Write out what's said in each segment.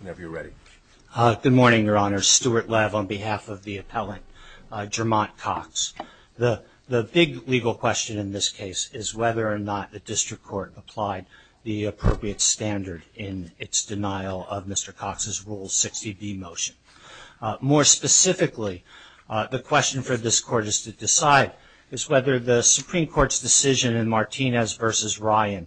Whenever you're ready. Good morning, Your Honor. Stuart Lev on behalf of the appellant, Jermont Cox. The big legal question in this case is whether or not the district court applied the appropriate standard in its denial of Mr. Cox's Rule 60b motion. More specifically, the question for this court is to decide is whether the Supreme Court's decision in Martinez v. Ryan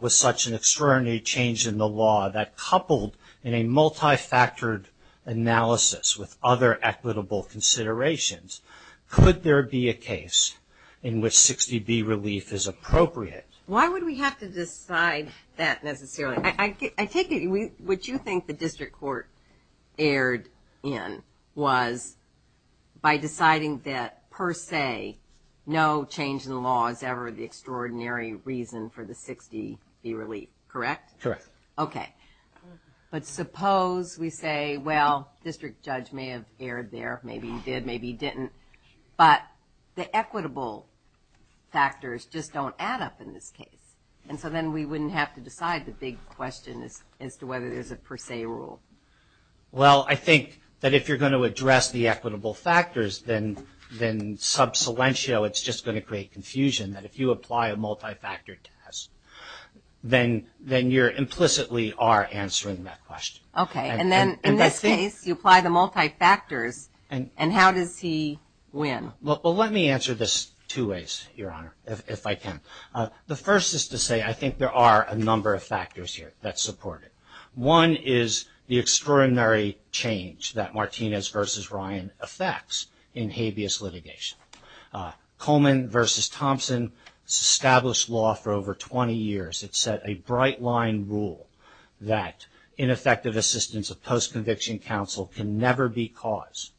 was such an extraordinary change in the law that coupled in a multi-factored analysis with other equitable considerations, could there be a case in which 60b relief is appropriate? Why would we have to decide that necessarily? I take it what you think the district court erred in was by reason for the 60b relief, correct? Correct. Okay, but suppose we say, well, district judge may have erred there, maybe he did, maybe he didn't, but the equitable factors just don't add up in this case. And so then we wouldn't have to decide the big question is as to whether there's a per se rule. Well, I think that if you're going to address the equitable factors, then subsilentio, it's just going to create confusion that if you apply a multi-factor test, then you're implicitly are answering that question. Okay, and then in this case, you apply the multi-factors, and how does he win? Well, let me answer this two ways, Your Honor, if I can. The first is to say I think there are a number of factors here that support it. One is the extraordinary change that Martinez v. Ryan affects in habeas litigation. Coleman v. Thompson established law for over 20 years. It set a bright line rule that ineffective assistance of post-conviction counsel can never be caused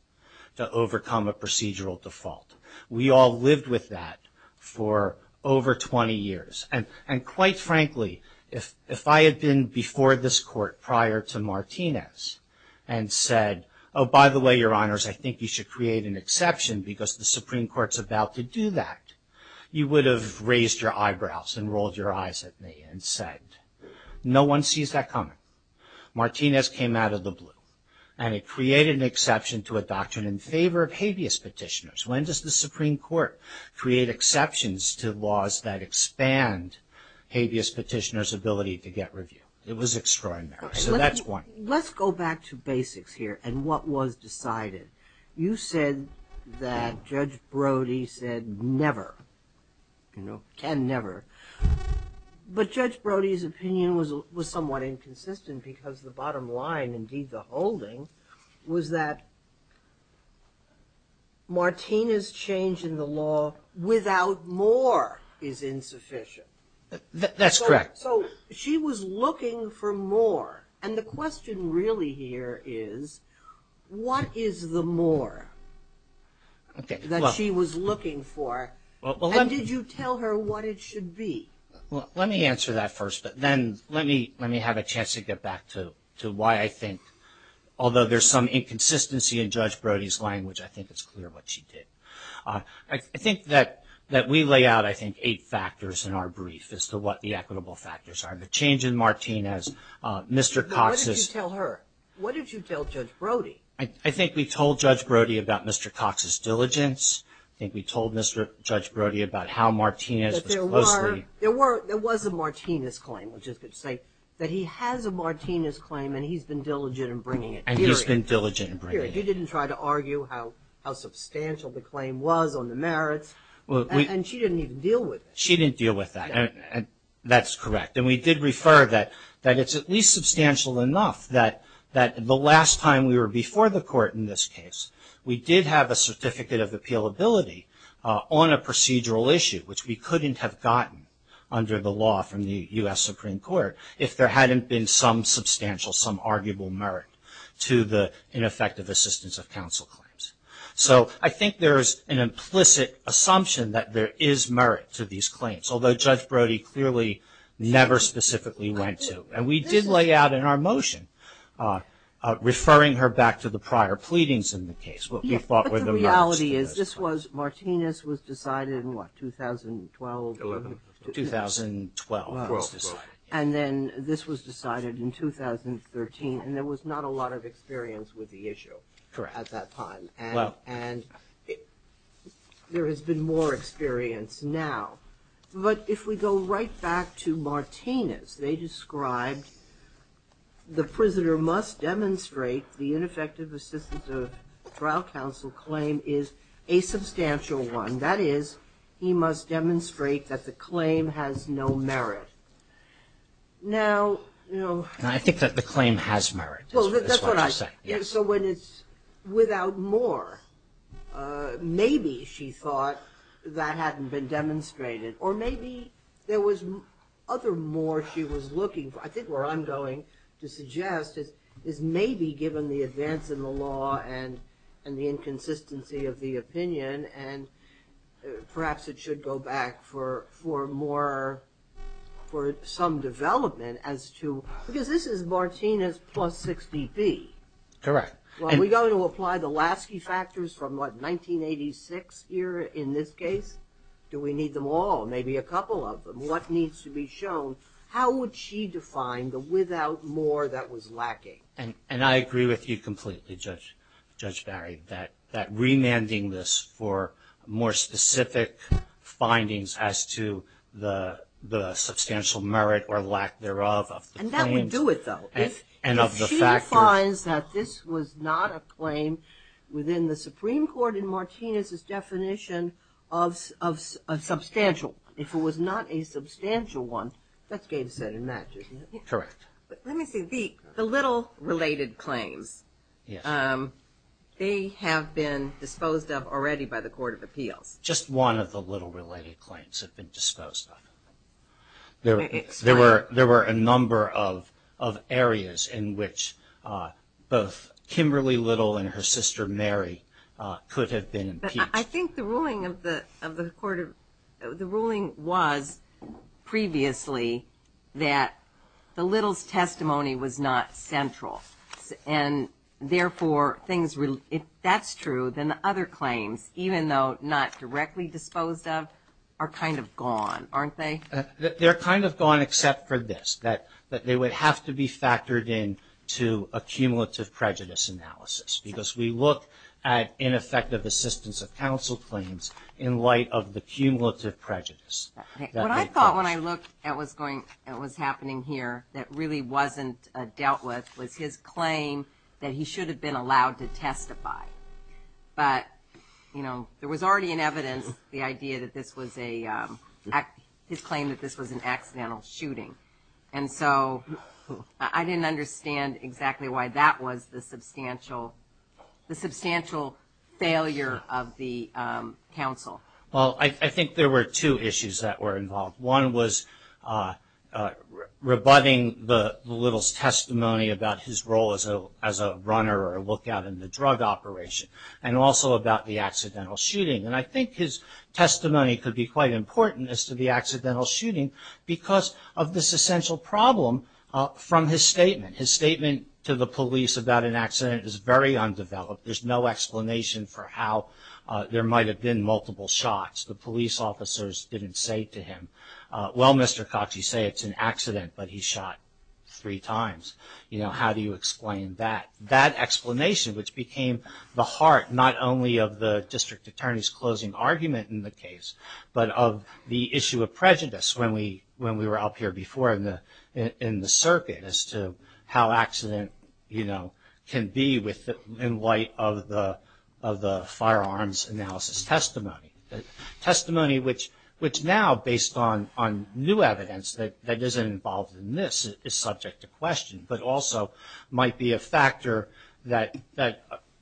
to overcome a procedural default. We all lived with that for over 20 years, and quite frankly, if I had been before this court prior to Martinez and said, oh, by the way, Your Honors, I think you should create an exception because the Supreme Court's about to do that, you would have raised your eyebrows and rolled your eyes at me and said, no one sees that coming. Martinez came out of the blue, and it created an exception to a doctrine in favor of habeas petitioners. When does the Supreme Court create exceptions to laws that expand habeas petitioners' ability to get an interview? It was extraordinary, so that's one. Let's go back to basics here and what was decided. You said that Judge Brody said never, you know, can never, but Judge Brody's opinion was somewhat inconsistent because the bottom line, indeed the holding, was that Martinez' change in the law without more is looking for more, and the question really here is, what is the more that she was looking for, and did you tell her what it should be? Well, let me answer that first, but then let me have a chance to get back to why I think, although there's some inconsistency in Judge Brody's language, I think it's clear what she did. I think that we lay out, I think, eight different claims against Martinez. Mr. Cox's – What did you tell her? What did you tell Judge Brody? I think we told Judge Brody about Mr. Cox's diligence. I think we told Mr. Judge Brody about how Martinez was closely – There was a Martinez claim, which is to say that he has a Martinez claim and he's been diligent in bringing it, period. And he's been diligent in bringing it. He didn't try to argue how substantial the claim was on the merits, and she didn't even deal with it. She didn't deal with that, and that's correct. And we did refer that it's at least substantial enough that the last time we were before the court in this case, we did have a certificate of appealability on a procedural issue, which we couldn't have gotten under the law from the U.S. Supreme Court if there hadn't been some substantial, some arguable merit to the ineffective assistance of counsel claims. So I think there's an implicit assumption that there is merit to these claims, although Judge Brody clearly never specifically went to. And we did lay out in our motion, referring her back to the prior pleadings in the case, what we thought were the merits to those claims. But the reality is, this was – Martinez was decided in what, 2012? 2011. 2012 was decided. And then this was decided in 2013, and there was not a lot of experience with the issue at that time. Correct. Well – There has been more experience now. But if we go right back to Martinez, they described, the prisoner must demonstrate the ineffective assistance of trial counsel claim is a substantial one. That is, he must demonstrate that the claim has no merit. Now, you know – And I think that the claim has merit, is what you're saying. So when it's without more, maybe she thought that hadn't been demonstrated. Or maybe there was other more she was looking for. I think where I'm going to suggest is maybe, given the advance in the law and the inconsistency of the opinion, and perhaps it should go back for more, for some development as to – Because this is Martinez plus 60B. Correct. Well, are we going to apply the Lasky factors from what, 1986 here in this case? Do we need them all, maybe a couple of them? What needs to be shown? How would she define the without more that was lacking? And I agree with you completely, Judge Barry, that remanding this for more specific findings as to the substantial merit or lack thereof of the claim – Don't do it, though. And of the factors – She defines that this was not a claim within the Supreme Court in Martinez's definition of substantial. If it was not a substantial one, that's game set in magic, isn't it? Correct. But let me say, the little related claims, they have been disposed of already by the Court of Appeals. Just one of the little related claims have been disposed of. There were a number of areas in which both Kimberly Little and her sister Mary could have been impeached. I think the ruling of the Court of – the ruling was previously that the Little's testimony was not central, and therefore, things – if that's true, then the other claims, even though not directly disposed of, are kind of gone, aren't they? They're kind of gone, except for this, that they would have to be factored in to a cumulative prejudice analysis, because we look at ineffective assistance of counsel claims in light of the cumulative prejudice that they caused. What I thought when I looked at what was going – what was happening here that really wasn't dealt with was his claim that he should have been allowed to testify. But, you know, there was already in evidence the idea that this was a – his claim that this was an accidental shooting. And so I didn't understand exactly why that was the substantial failure of the counsel. Well, I think there were two issues that were involved. One was rebutting the Little's testimony about his role as a runner or a lookout in the drug operation, and also about the accidental shooting. And I think his testimony could be quite important as to the accidental shooting because of this essential problem from his statement. His statement to the police about an accident is very undeveloped. There's no explanation for how there might have been multiple shots. The police officers didn't say to him, well, Mr. Cox, you say it's an accident, but he shot three times. You know, how do you explain that? That explanation, which became the heart not only of the district attorney's closing argument in the case, but of the issue of prejudice when we were up here before in the circuit as to how accident, you know, can be in light of the firearms analysis testimony. Testimony which now, based on new evidence that isn't involved in this, is subject to question, but also might be a factor that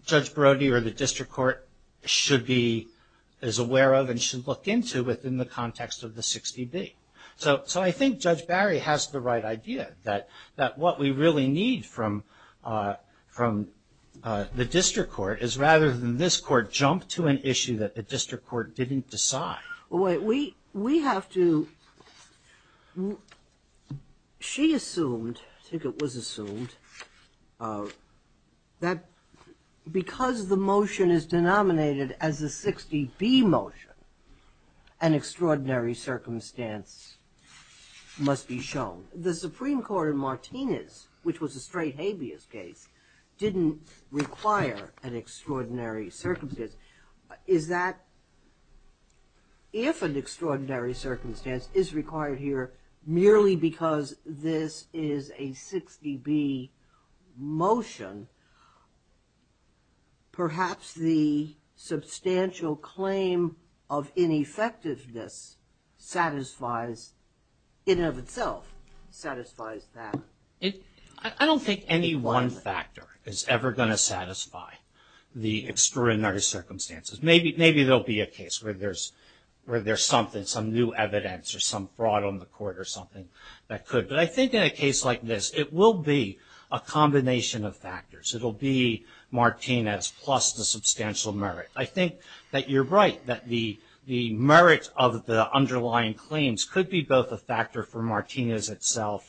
Judge Brody or the district court should be as aware of and should look into within the context of the 60B. So I think Judge Barry has the right idea that what we really need from the district court is rather than this court jump to an issue that the district court didn't decide. Well, wait, we have to, she assumed, I think it was assumed, that because the motion is denominated as a 60B motion, an extraordinary circumstance must be shown. The Supreme Court in Martinez, which was a straight habeas case, didn't require an extraordinary circumstance. Is that, if an extraordinary circumstance is required here merely because this is a 60B motion, perhaps the substantial claim of ineffectiveness satisfies, in and of itself, satisfies that. I don't think any one factor is ever going to satisfy the extraordinary circumstances. Maybe there'll be a case where there's something, some new evidence or some fraud on the court or something that could. But I think in a case like this, it will be a combination of factors. It'll be Martinez plus the substantial merit. I think that you're right, that the merit of the underlying claims could be both a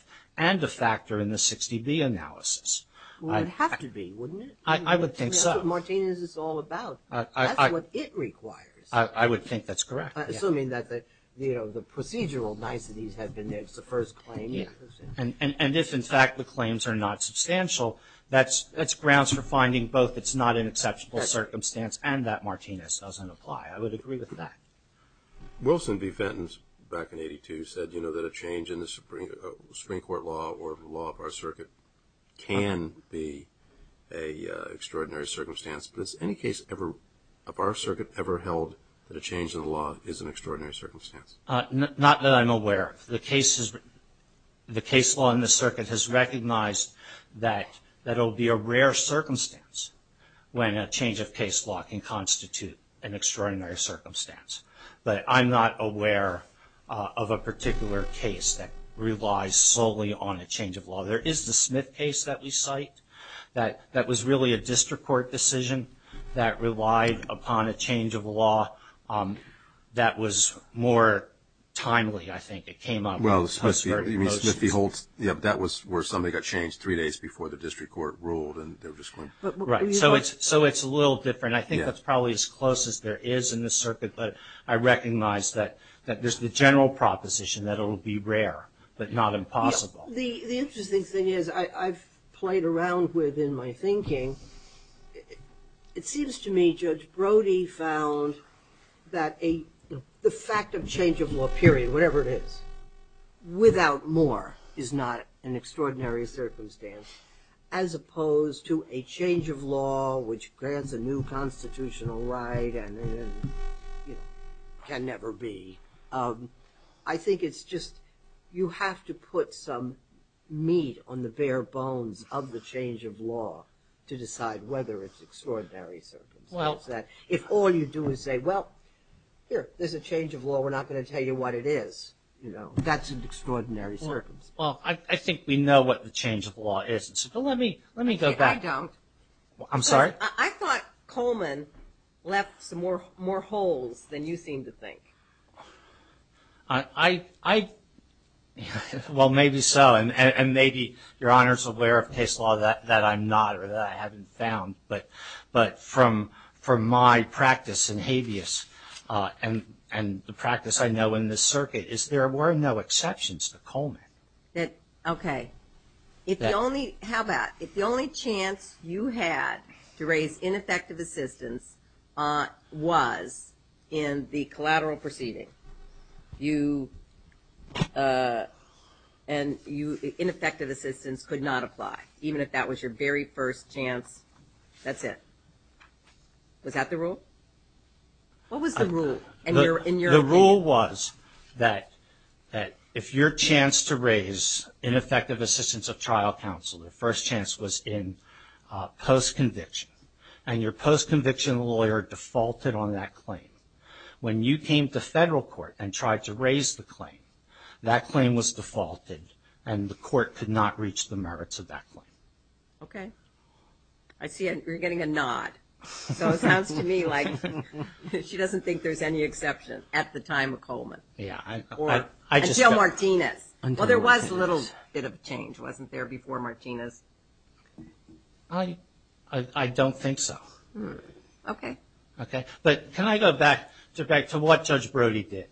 and a factor in the 60B analysis. Well, it would have to be, wouldn't it? I would think so. That's what Martinez is all about. That's what it requires. I would think that's correct. Assuming that the procedural niceties have been there. It's the first claim. Yeah. And if, in fact, the claims are not substantial, that's grounds for finding both it's not an exceptional circumstance and that Martinez doesn't apply. I would agree with that. Wilson B. Fenton back in 82 said, you know, that a change in the Supreme Court law or the law of our circuit can be a extraordinary circumstance. But is any case ever of our circuit ever held that a change in the law is an extraordinary circumstance? Not that I'm aware of. The case law in the circuit has recognized that that'll be a rare circumstance when a change of case law can constitute an extraordinary circumstance. But I'm not aware of a particular case that relies solely on a change of law. There is the Smith case that we cite that that was really a district court decision that relied upon a change of law that was more timely, I think. It came up. Well, Smith v. Holtz. Yeah. That was where somebody got changed three days before the district court ruled and they were just going. Right. So it's a little different. I think that's probably as close as there is in the circuit. But I recognize that there's the general proposition that it will be rare, but not impossible. The interesting thing is, I've played around with in my thinking, it seems to me Judge Brody found that the fact of change of law, period, whatever it is, without more is not an extraordinary circumstance as opposed to a change of can never be. I think it's just, you have to put some meat on the bare bones of the change of law to decide whether it's an extraordinary circumstance. If all you do is say, well, here, there's a change of law. We're not going to tell you what it is. That's an extraordinary circumstance. Well, I think we know what the change of law is. So let me go back. I don't. I'm sorry? I thought Coleman left some more holes than you seem to think. Well, maybe so. And maybe Your Honor's aware of case law that I'm not, or that I haven't found. But from my practice in habeas, and the practice I know in this circuit, is there were no exceptions to Coleman. OK. How about, if the only chance you had to raise ineffective assistance was in the collateral proceeding, and ineffective assistance could not apply, even if that was your very first chance, that's it. What was the rule? The rule was that if your chance to raise ineffective assistance of trial counsel, the first chance was in post-conviction, and your post-conviction lawyer defaulted on that claim. When you came to federal court and tried to raise the claim, that claim was defaulted, and the court could not reach the merits of that claim. OK. I see you're getting a nod. So it sounds to me like she doesn't think there's any exception at the time of Coleman. Yeah. Until Martinez. Well, there was a little bit of a change, wasn't there, before Martinez? I don't think so. OK. OK. But can I go back to what Judge Brody did?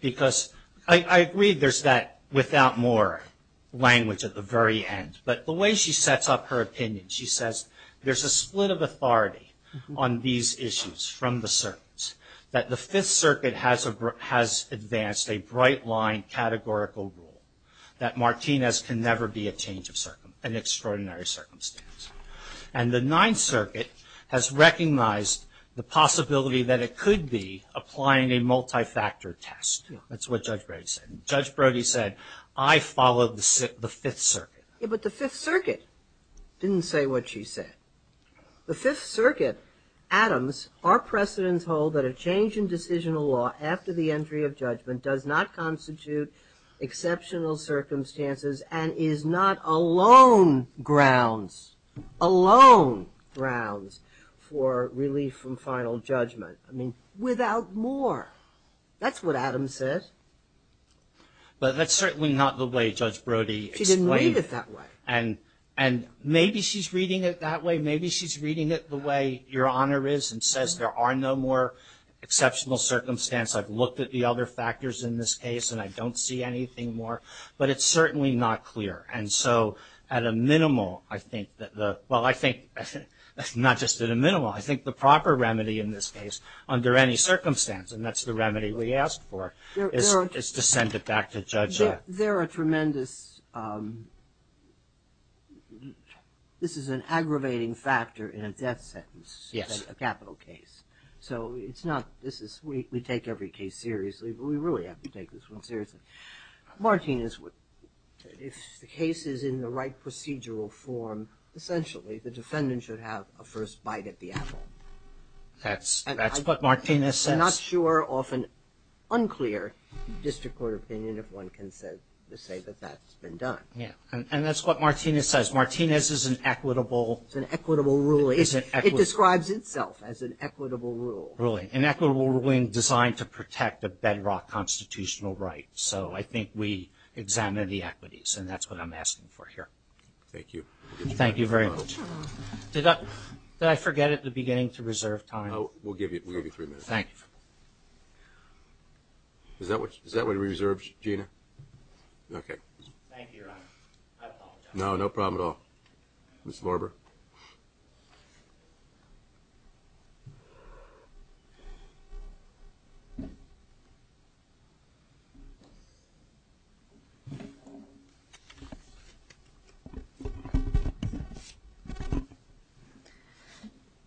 Because I agree there's that without more language at the very end. But the way she sets up her opinion, she says there's a split of authority on these issues from the circuits, that the Fifth Circuit has advanced a bright-line categorical rule, that Martinez can never be a change of circumstance, an extraordinary circumstance. And the Ninth Circuit has recognized the possibility that it could be applying a multi-factor test. That's what Judge Brody said. Judge Brody said, I followed the Fifth Circuit. But the Fifth Circuit didn't say what she said. The Fifth Circuit, Adams, our precedents hold that a change in decisional law after the entry of judgment does not constitute exceptional circumstances and is not alone grounds, alone grounds for relief from final judgment. I mean, without more. That's what Adams said. But that's certainly not the way Judge Brody explained it. And maybe she's reading it that way. Maybe she's reading it the way Your Honor is and says there are no more exceptional circumstances. I've looked at the other factors in this case, and I don't see anything more. But it's certainly not clear. And so at a minimal, I think that the, well, I think not just at a minimal. I think the proper remedy in this case under any circumstance, and that's the remedy we asked for, is to send it back to Judge Brody. There are tremendous, this is an aggravating factor in a death sentence. Yes. A capital case. So it's not, this is, we take every case seriously, but we really have to take this one seriously. Martinez would, if the case is in the right procedural form, essentially the defendant should have a first bite at the apple. That's what Martinez says. Not sure, often unclear, district court opinion if one can say that that's been done. Yeah. And that's what Martinez says. Martinez is an equitable. It's an equitable ruling. It describes itself as an equitable rule. Ruling. An equitable ruling designed to protect a bedrock constitutional right. So I think we examine the equities, and that's what I'm asking for here. Thank you. Thank you very much. Did I forget at the beginning to reserve time? We'll give you three minutes. Thank you. Is that what, is that what we reserved, Gina? Okay. Thank you, Your Honor. I apologize. No, no problem at all. Ms. Lorber.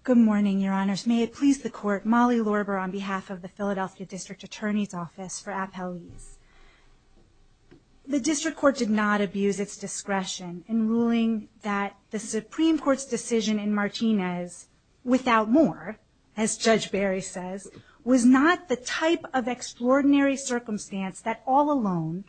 Good morning, Your Honors. May it please the court, Molly Lorber on behalf of the Philadelphia District Attorney's Office for appellees. The district court did not abuse its discretion in ruling that the Supreme Court's decision in Martinez without more, as Judge Barry says, was not the type of extraordinary circumstance that all alone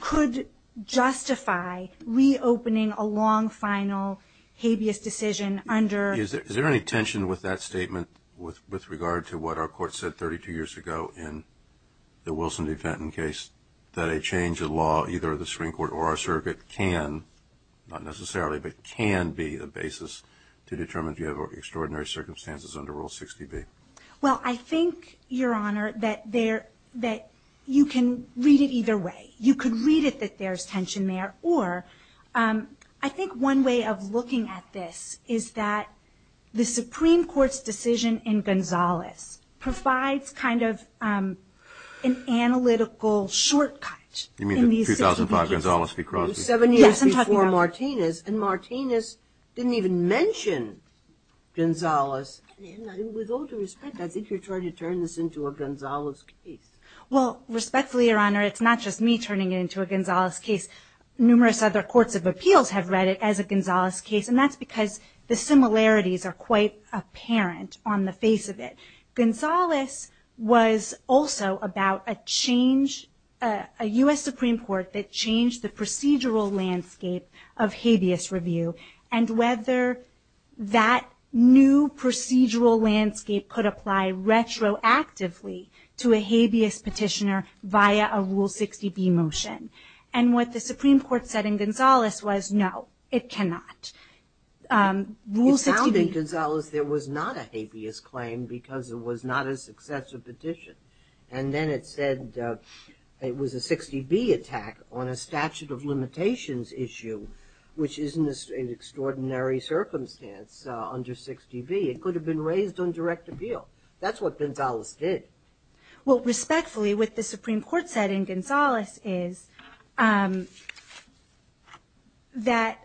could justify reopening a long final habeas decision under. Is there any tension with that statement with regard to what our court said 32 years ago in the Wilson v. Fenton case, that a change of law, either the Supreme Court or our circuit, can, not necessarily, but can be the basis to determine if you have extraordinary circumstances under Rule 60B? Well, I think, Your Honor, that you can read it either way. You could read it that there's tension there, or I think one way of looking at this is that the Supreme Court's decision in Gonzales provides kind of an analytical shortcut. You mean the 2005 Gonzales v. Crosby? Seven years before Martinez, and Martinez didn't even mention Gonzales. With all due respect, I think you're trying to turn this into a Gonzales case. Well, respectfully, Your Honor, it's not just me turning it into a Gonzales case. Numerous other courts of appeals have read it as a Gonzales case, and that's because the similarities are quite apparent on the face of it. Gonzales was also about a change, a U.S. Supreme Court that changed the procedural landscape of habeas review, and whether that new procedural landscape could apply retroactively to a habeas petitioner via a Rule 60B motion. And what the Supreme Court said in Gonzales was, no, it cannot. Rule 60B. It found in Gonzales there was not a habeas claim because it was not a successive petition. And then it said it was a 60B attack on a statute of limitations issue, which is an extraordinary circumstance under 60B. It could have been raised on direct appeal. That's what Gonzales did. Well, respectfully, what the Supreme Court said in Gonzales is that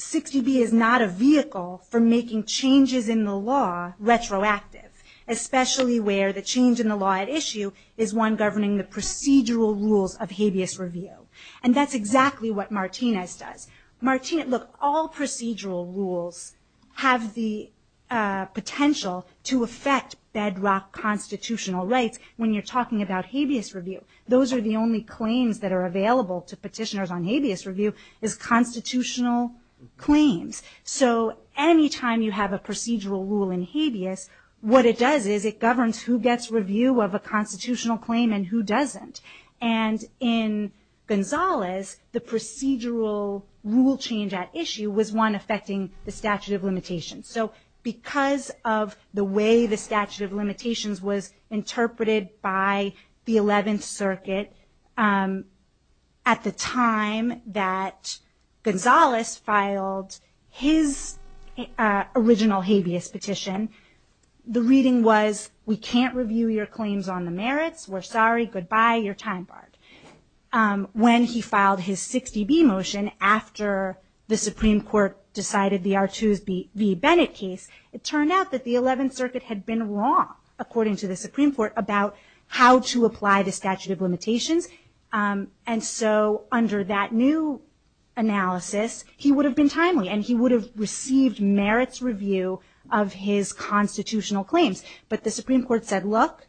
60B is not a vehicle for making changes in the law retroactive, especially where the change in the law at issue is one governing the procedural rules of habeas review. And that's exactly what Martinez does. Martinez, look, all procedural rules have the potential to affect bedrock constitutional rights when you're talking about habeas review. Those are the only claims that are available to petitioners on habeas review is constitutional claims. So any time you have a procedural rule in habeas, what it does is it governs who gets review of a constitutional claim and who doesn't. And in Gonzales, the procedural rule change at issue was one affecting the statute of limitations. So because of the way the statute of limitations was interpreted by the 11th Circuit at the time that Gonzales filed his original habeas petition, the reading was, we can't review your claims on the merits. We're sorry. Goodbye. You're time barred. When he filed his 60B motion after the Supreme Court decided the Artoos v. Bennett case, it turned out that the 11th Circuit had been wrong, according to the Supreme Court, about how to apply the statute of limitations. And so under that new analysis, he would have been timely and he would have received merits review of his constitutional claims. But the Supreme Court said, look,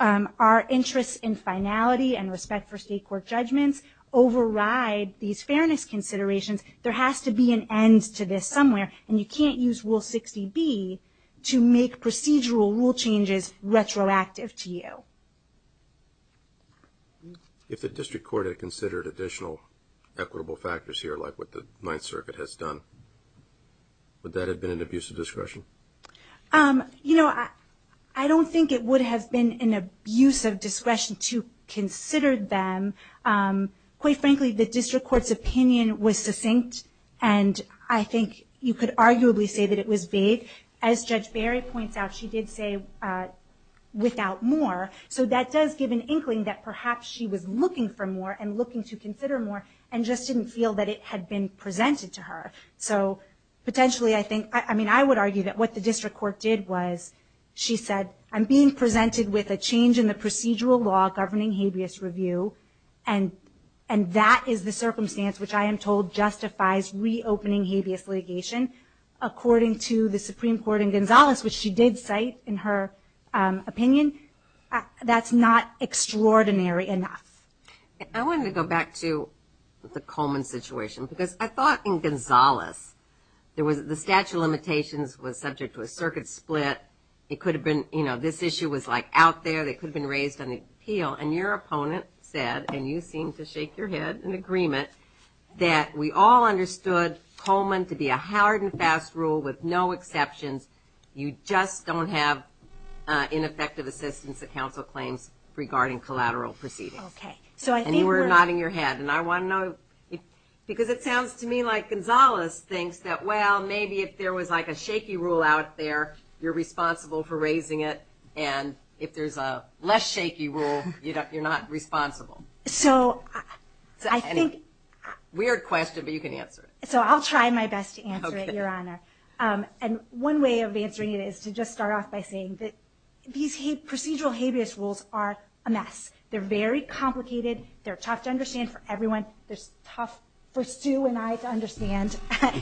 our interests in finality and respect for state court judgments override these fairness considerations. There has to be an end to this somewhere. And you can't use Rule 60B to make procedural rule changes retroactive to you. If the district court had considered additional equitable factors here, like what the 9th Circuit has done, would that have been an abuse of discretion? Um, you know, I don't think it would have been an abuse of discretion to consider them. Quite frankly, the district court's opinion was succinct. And I think you could arguably say that it was vague. As Judge Barry points out, she did say without more. So that does give an inkling that perhaps she was looking for more and looking to consider more and just didn't feel that it had been presented to her. So potentially, I think I mean, I would argue that what the district court did was she said, I'm being presented with a change in the procedural law governing habeas review. And and that is the circumstance which I am told justifies reopening habeas litigation, according to the Supreme Court in Gonzales, which she did cite in her opinion. That's not extraordinary enough. I wanted to go back to the Coleman situation, because I thought in Gonzales, there was the statute of limitations was subject to a circuit split. It could have been, you know, this issue was like out there, that could have been raised on the appeal. And your opponent said, and you seem to shake your head in agreement, that we all understood Coleman to be a hard and fast rule with no exceptions. You just don't have ineffective assistance at council claims regarding collateral proceedings. So I think we're nodding your head. And I want to know, because it sounds to me like Gonzales thinks that, well, maybe if there was like a shaky rule out there, you're responsible for raising it. And if there's a less shaky rule, you're not responsible. So I think weird question, but you can answer it. So I'll try my best to answer it, Your Honor. And one way of answering it is to just start off by saying that these procedural habeas rules are a mess. They're very complicated. They're tough to understand for everyone. They're tough for Sue and I to understand.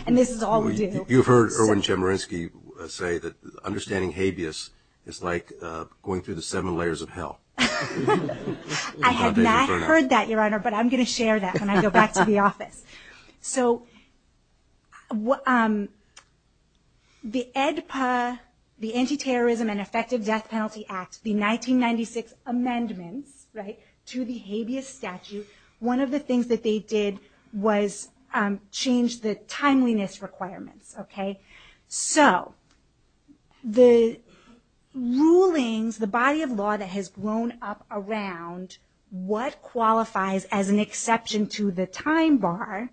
And this is all we do. You've heard Irwin Chemerinsky say that understanding habeas is like going through the seven layers of hell. I have not heard that, Your Honor. But I'm going to share that when I go back to the office. So the ANTITERRORISM AND EFFECTIVE DEATH PENALTY ACT, the 1996 amendments to the habeas statute, one of the things that they did was change the timeliness requirements. So the rulings, the body of law that has grown up around what qualifies as an exception to the time bar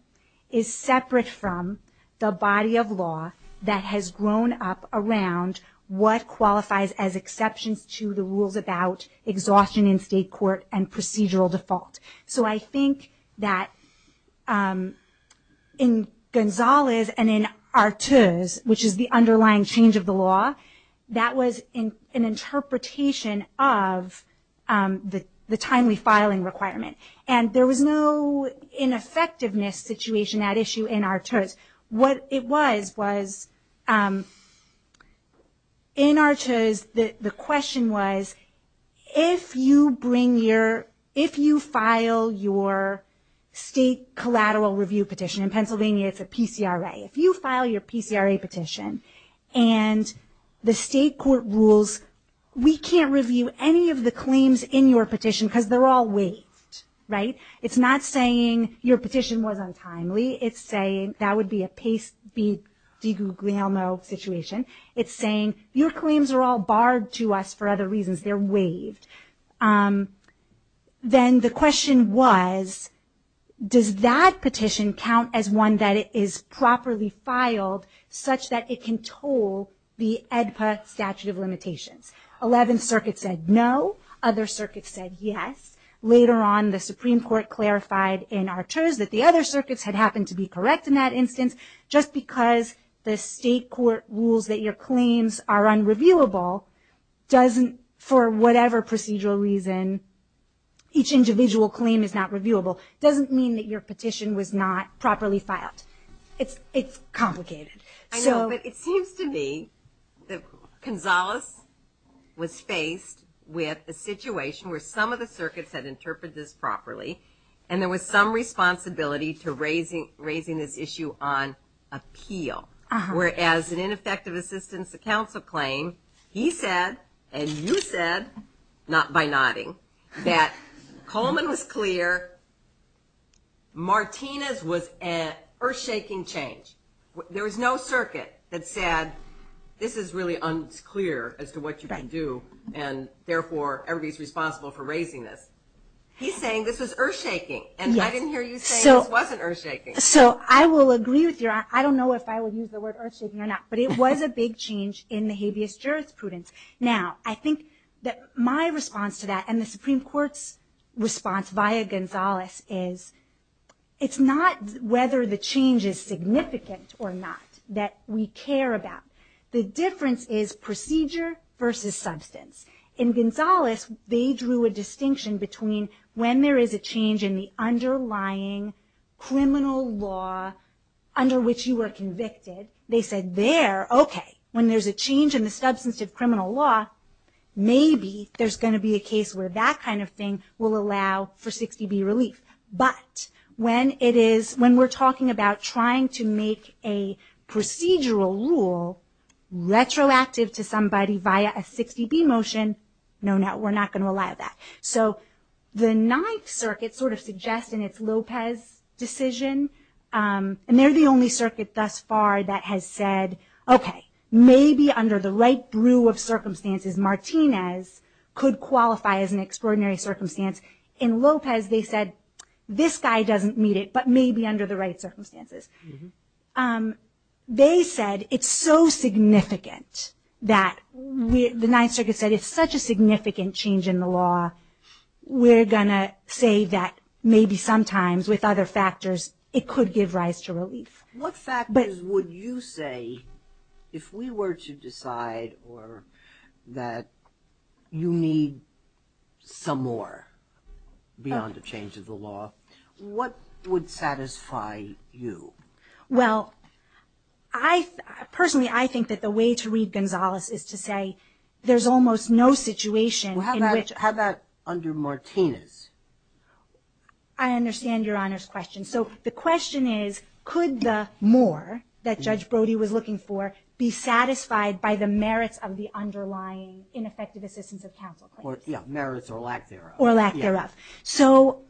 is separate from the body of law that has grown up around what qualifies as exceptions to the rules about exhaustion in state court and procedural default. So I think that in Gonzalez and in Artuz, which is the underlying change of the law, that was an interpretation of the timely filing requirement. And there was no ineffectiveness situation at issue in Artuz. What it was, was in Artuz, the question was, if you file your state collateral review petition, in Pennsylvania it's a PCRA, if you file your PCRA petition and the state court rules, we can't review any of the claims in your petition because they're all waived, right? It's not saying your petition was untimely. It's saying, that would be a Pace v. DiGuglielmo situation. It's saying your claims are all barred to us for other reasons. They're waived. Then the question was, does that petition count as one that is properly filed such that it can toll the AEDPA statute of limitations? 11th Circuit said no. Other circuits said yes. Later on, the Supreme Court clarified in Artuz that the other circuits had happened to be correct in that instance. Just because the state court rules that your claims are unreviewable, doesn't, for whatever procedural reason, each individual claim is not reviewable, doesn't mean that your petition was not properly filed. It's complicated. I know, but it seems to me that Gonzalez was faced with a situation where some of the circuits had interpreted this properly and there was some responsibility to raising this issue on appeal. Whereas an ineffective assistance to counsel claim, he said, and you said, not by nodding, that Coleman was clear, Martinez was an earth-shaking change. There was no circuit that said, this is really unclear as to what you can do and therefore, everybody's responsible for raising this. He's saying this was earth-shaking, and I didn't hear you say this wasn't earth-shaking. So I will agree with you. I don't know if I would use the word earth-shaking or not, but it was a big change in the habeas jurisprudence. Now, I think that my response to that and the Supreme Court's response via Gonzalez is, it's not whether the change is significant or not that we care about. The difference is procedure versus substance. In Gonzalez, they drew a distinction between when there is a change in the underlying criminal law under which you were convicted, they said there, okay, when there's a change in the substance of criminal law, maybe there's gonna be a case where that kind of thing will allow for 60B relief. But when we're talking about trying to make a procedural rule retroactive to somebody via a 60B motion, no, no, we're not gonna allow that. So the Ninth Circuit sort of suggests in its Lopez decision, and they're the only circuit thus far that has said, okay, maybe under the right brew of circumstances, Martinez could qualify as an extraordinary circumstance. In Lopez, they said, this guy doesn't meet it, but maybe under the right circumstances. And they said, it's so significant that the Ninth Circuit said, it's such a significant change in the law, we're gonna say that maybe sometimes with other factors, it could give rise to relief. What factors would you say, if we were to decide that you need some more beyond the change of the law, what would satisfy you? Well, personally, I think that the way to read Gonzalez is to say, there's almost no situation in which... How about under Martinez? I understand Your Honor's question. So the question is, could the more that Judge Brody was looking for be satisfied by the merits of the underlying ineffective assistance of counsel? Or merits or lack thereof. Or lack thereof. So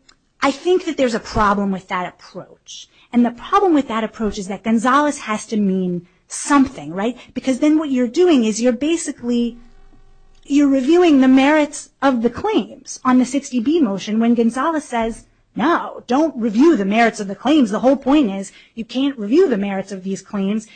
I think that there's a problem with that approach. And the problem with that approach is that Gonzalez has to mean something, right? Because then what you're doing is you're basically, you're reviewing the merits of the claims on the 60B motion when Gonzalez says, no, don't review the merits of the claims. The whole point is, you can't review the merits of these claims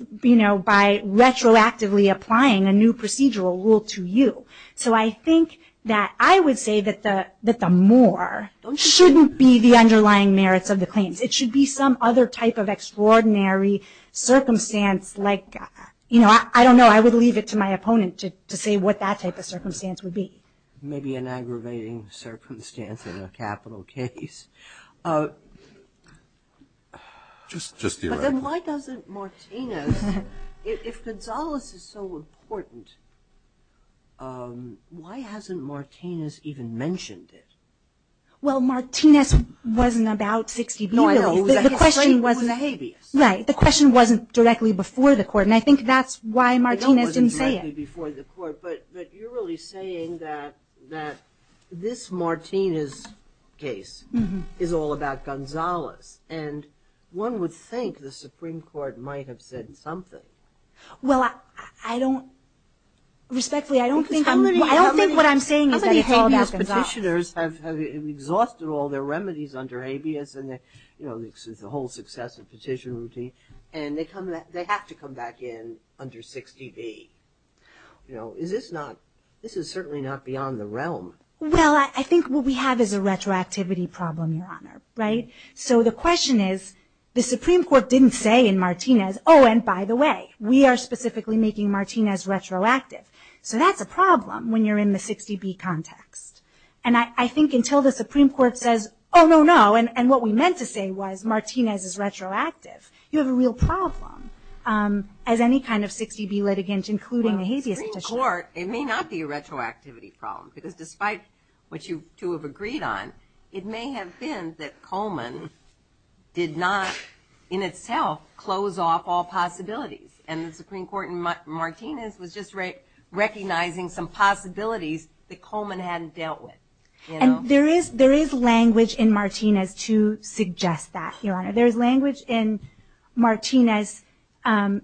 by retroactively applying a new procedural rule to you. So I think that I would say that the more shouldn't be the underlying merits of the claims. It should be some other type of extraordinary circumstance like, you know, I don't know. I would leave it to my opponent to say what that type of circumstance would be. Maybe an aggravating circumstance in a capital case. Just theoretically. But then why doesn't Martinez, if Gonzalez is so important, why hasn't Martinez even mentioned it? Well, Martinez wasn't about 60B. No, he was a habeas. Right. The question wasn't directly before the court. And I think that's why Martinez didn't say it. It wasn't directly before the court. But you're really saying that this Martinez case is all about Gonzalez. And one would think the Supreme Court might have said something. Well, I don't. Respectfully, I don't think I'm. I don't think what I'm saying is that it's all about Gonzalez. How many habeas petitioners have exhausted all their remedies under habeas? And, you know, this is a whole successive petition routine. And they come, they have to come back in under 60B. You know, is this not, this is certainly not beyond the realm. Well, I think what we have is a retroactivity problem, Your Honor. Right. So the question is, the Supreme Court didn't say in Martinez, oh, and by the way, we are specifically making Martinez retroactive. So that's a problem when you're in the 60B context. And I think until the Supreme Court says, oh, no, no, and what we meant to say was Martinez is retroactive. You have a real problem as any kind of 60B litigant, including a habeas petitioner. Well, Supreme Court, it may not be a retroactivity problem. Because despite what you two have agreed on, it may have been that Coleman did not, in itself, close off all possibilities. And the Supreme Court in Martinez was just recognizing some possibilities that Coleman hadn't dealt with. And there is language in Martinez to suggest that, Your Honor. There is language in Martinez. Because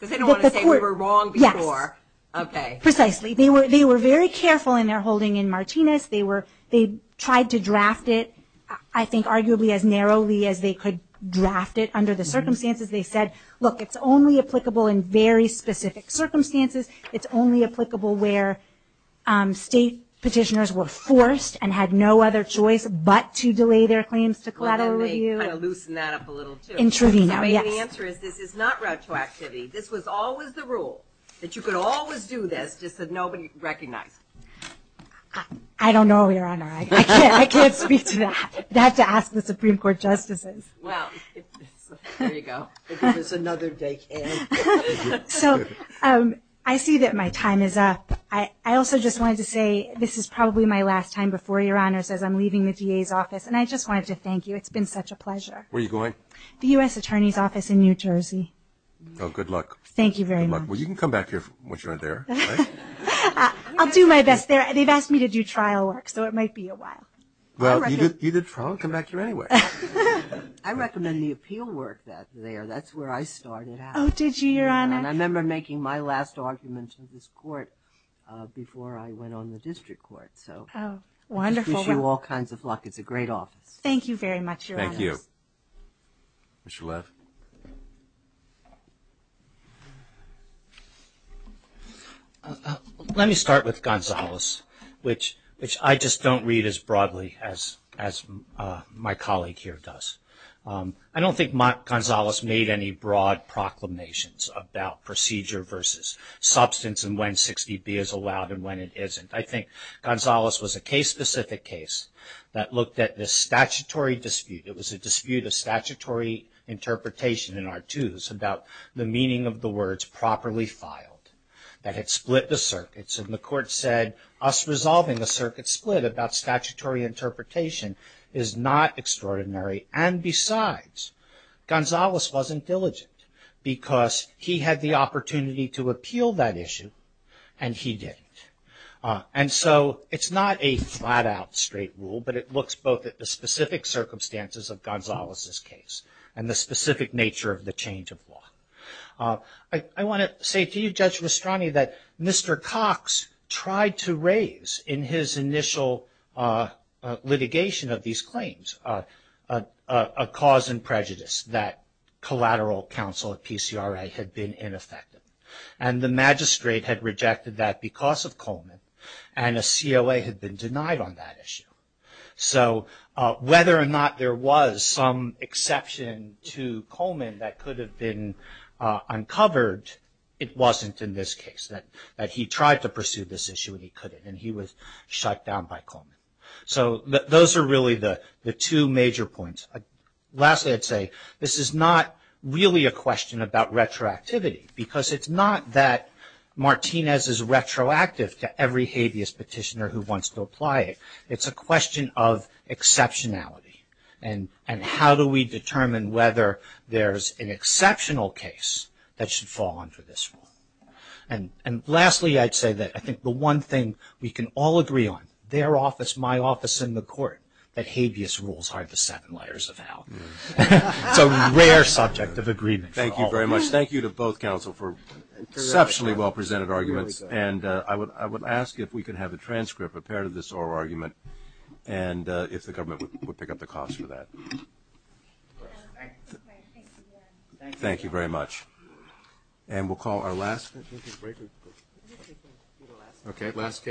they don't want to say we were wrong before. Yes. OK. Precisely. They were very careful in their holding in Martinez. They tried to draft it, I think, arguably, as narrowly as they could draft it under the circumstances. They said, look, it's only applicable in very specific circumstances. It's only applicable where state petitioners were forced and had no other choice but to delay their claims to collateral review. Well, then they kind of loosened that up a little, too. In Trudino, yes. So maybe the answer is this is not retroactivity. This was always the rule, that you could always do this, just that nobody recognized. I don't know, Your Honor. I can't speak to that. I'd have to ask the Supreme Court justices. Well, there you go. Give us another day, Kay. So I see that my time is up. I also just wanted to say this is probably my last time before Your Honor says I'm leaving the DA's office. And I just wanted to thank you. It's been such a pleasure. Where are you going? The US Attorney's Office in New Jersey. Oh, good luck. Thank you very much. Well, you can come back here once you're there. I'll do my best there. They've asked me to do trial work. So it might be a while. Well, you did trial. Come back here anyway. I recommend the appeal work there. That's where I started out. Oh, did you, Your Honor? And I remember making my last argument to this court before I went on the district court. So I wish you all kinds of luck. It's a great office. Thank you very much, Your Honor. Thank you, Ms. Shalev. Let me start with Gonzales, which I just don't read as broadly as my colleague here does. I don't think Gonzales made any broad proclamations about procedure versus substance and when 60B is allowed and when it isn't. I think Gonzales was a case-specific case that looked at this statutory dispute. It was a dispute of statutory interpretation in R2s about the meaning of the words properly filed that had split the circuits. And the court said us resolving a circuit split about statutory interpretation is not extraordinary. And besides, Gonzales wasn't diligent because he had the opportunity to appeal that issue and he didn't. And so it's not a flat-out straight rule, but it looks both at the specific circumstances of Gonzales's case and the specific nature of the change of law. I want to say to you, Judge Rastrani, that Mr. Cox tried to raise in his initial litigation of these claims a cause and prejudice that collateral counsel at PCRA had been ineffective. And the magistrate had rejected that because of Coleman and a COA had been denied on that issue. So whether or not there was some exception to Coleman that could have been uncovered, it wasn't in this case that he tried to pursue this issue and he couldn't. And he was shut down by Coleman. So those are really the two major points. Lastly, I'd say, this is not really a question about retroactivity because it's not that Martinez is retroactive to every habeas petitioner who wants to apply it. It's a question of exceptionality and how do we determine whether there's an exceptional case that should fall under this rule. And lastly, I'd say that I think the one thing we can all agree on, their office, my office, and the court, that habeas rules are the seven layers of hell. It's a rare subject of agreement. Thank you very much. Thank you to both counsel for exceptionally well-presented arguments. And I would ask if we could have a transcript of part of this oral argument and if the government would pick up the cost for that. Thank you very much. And we'll call our last. Okay, last case.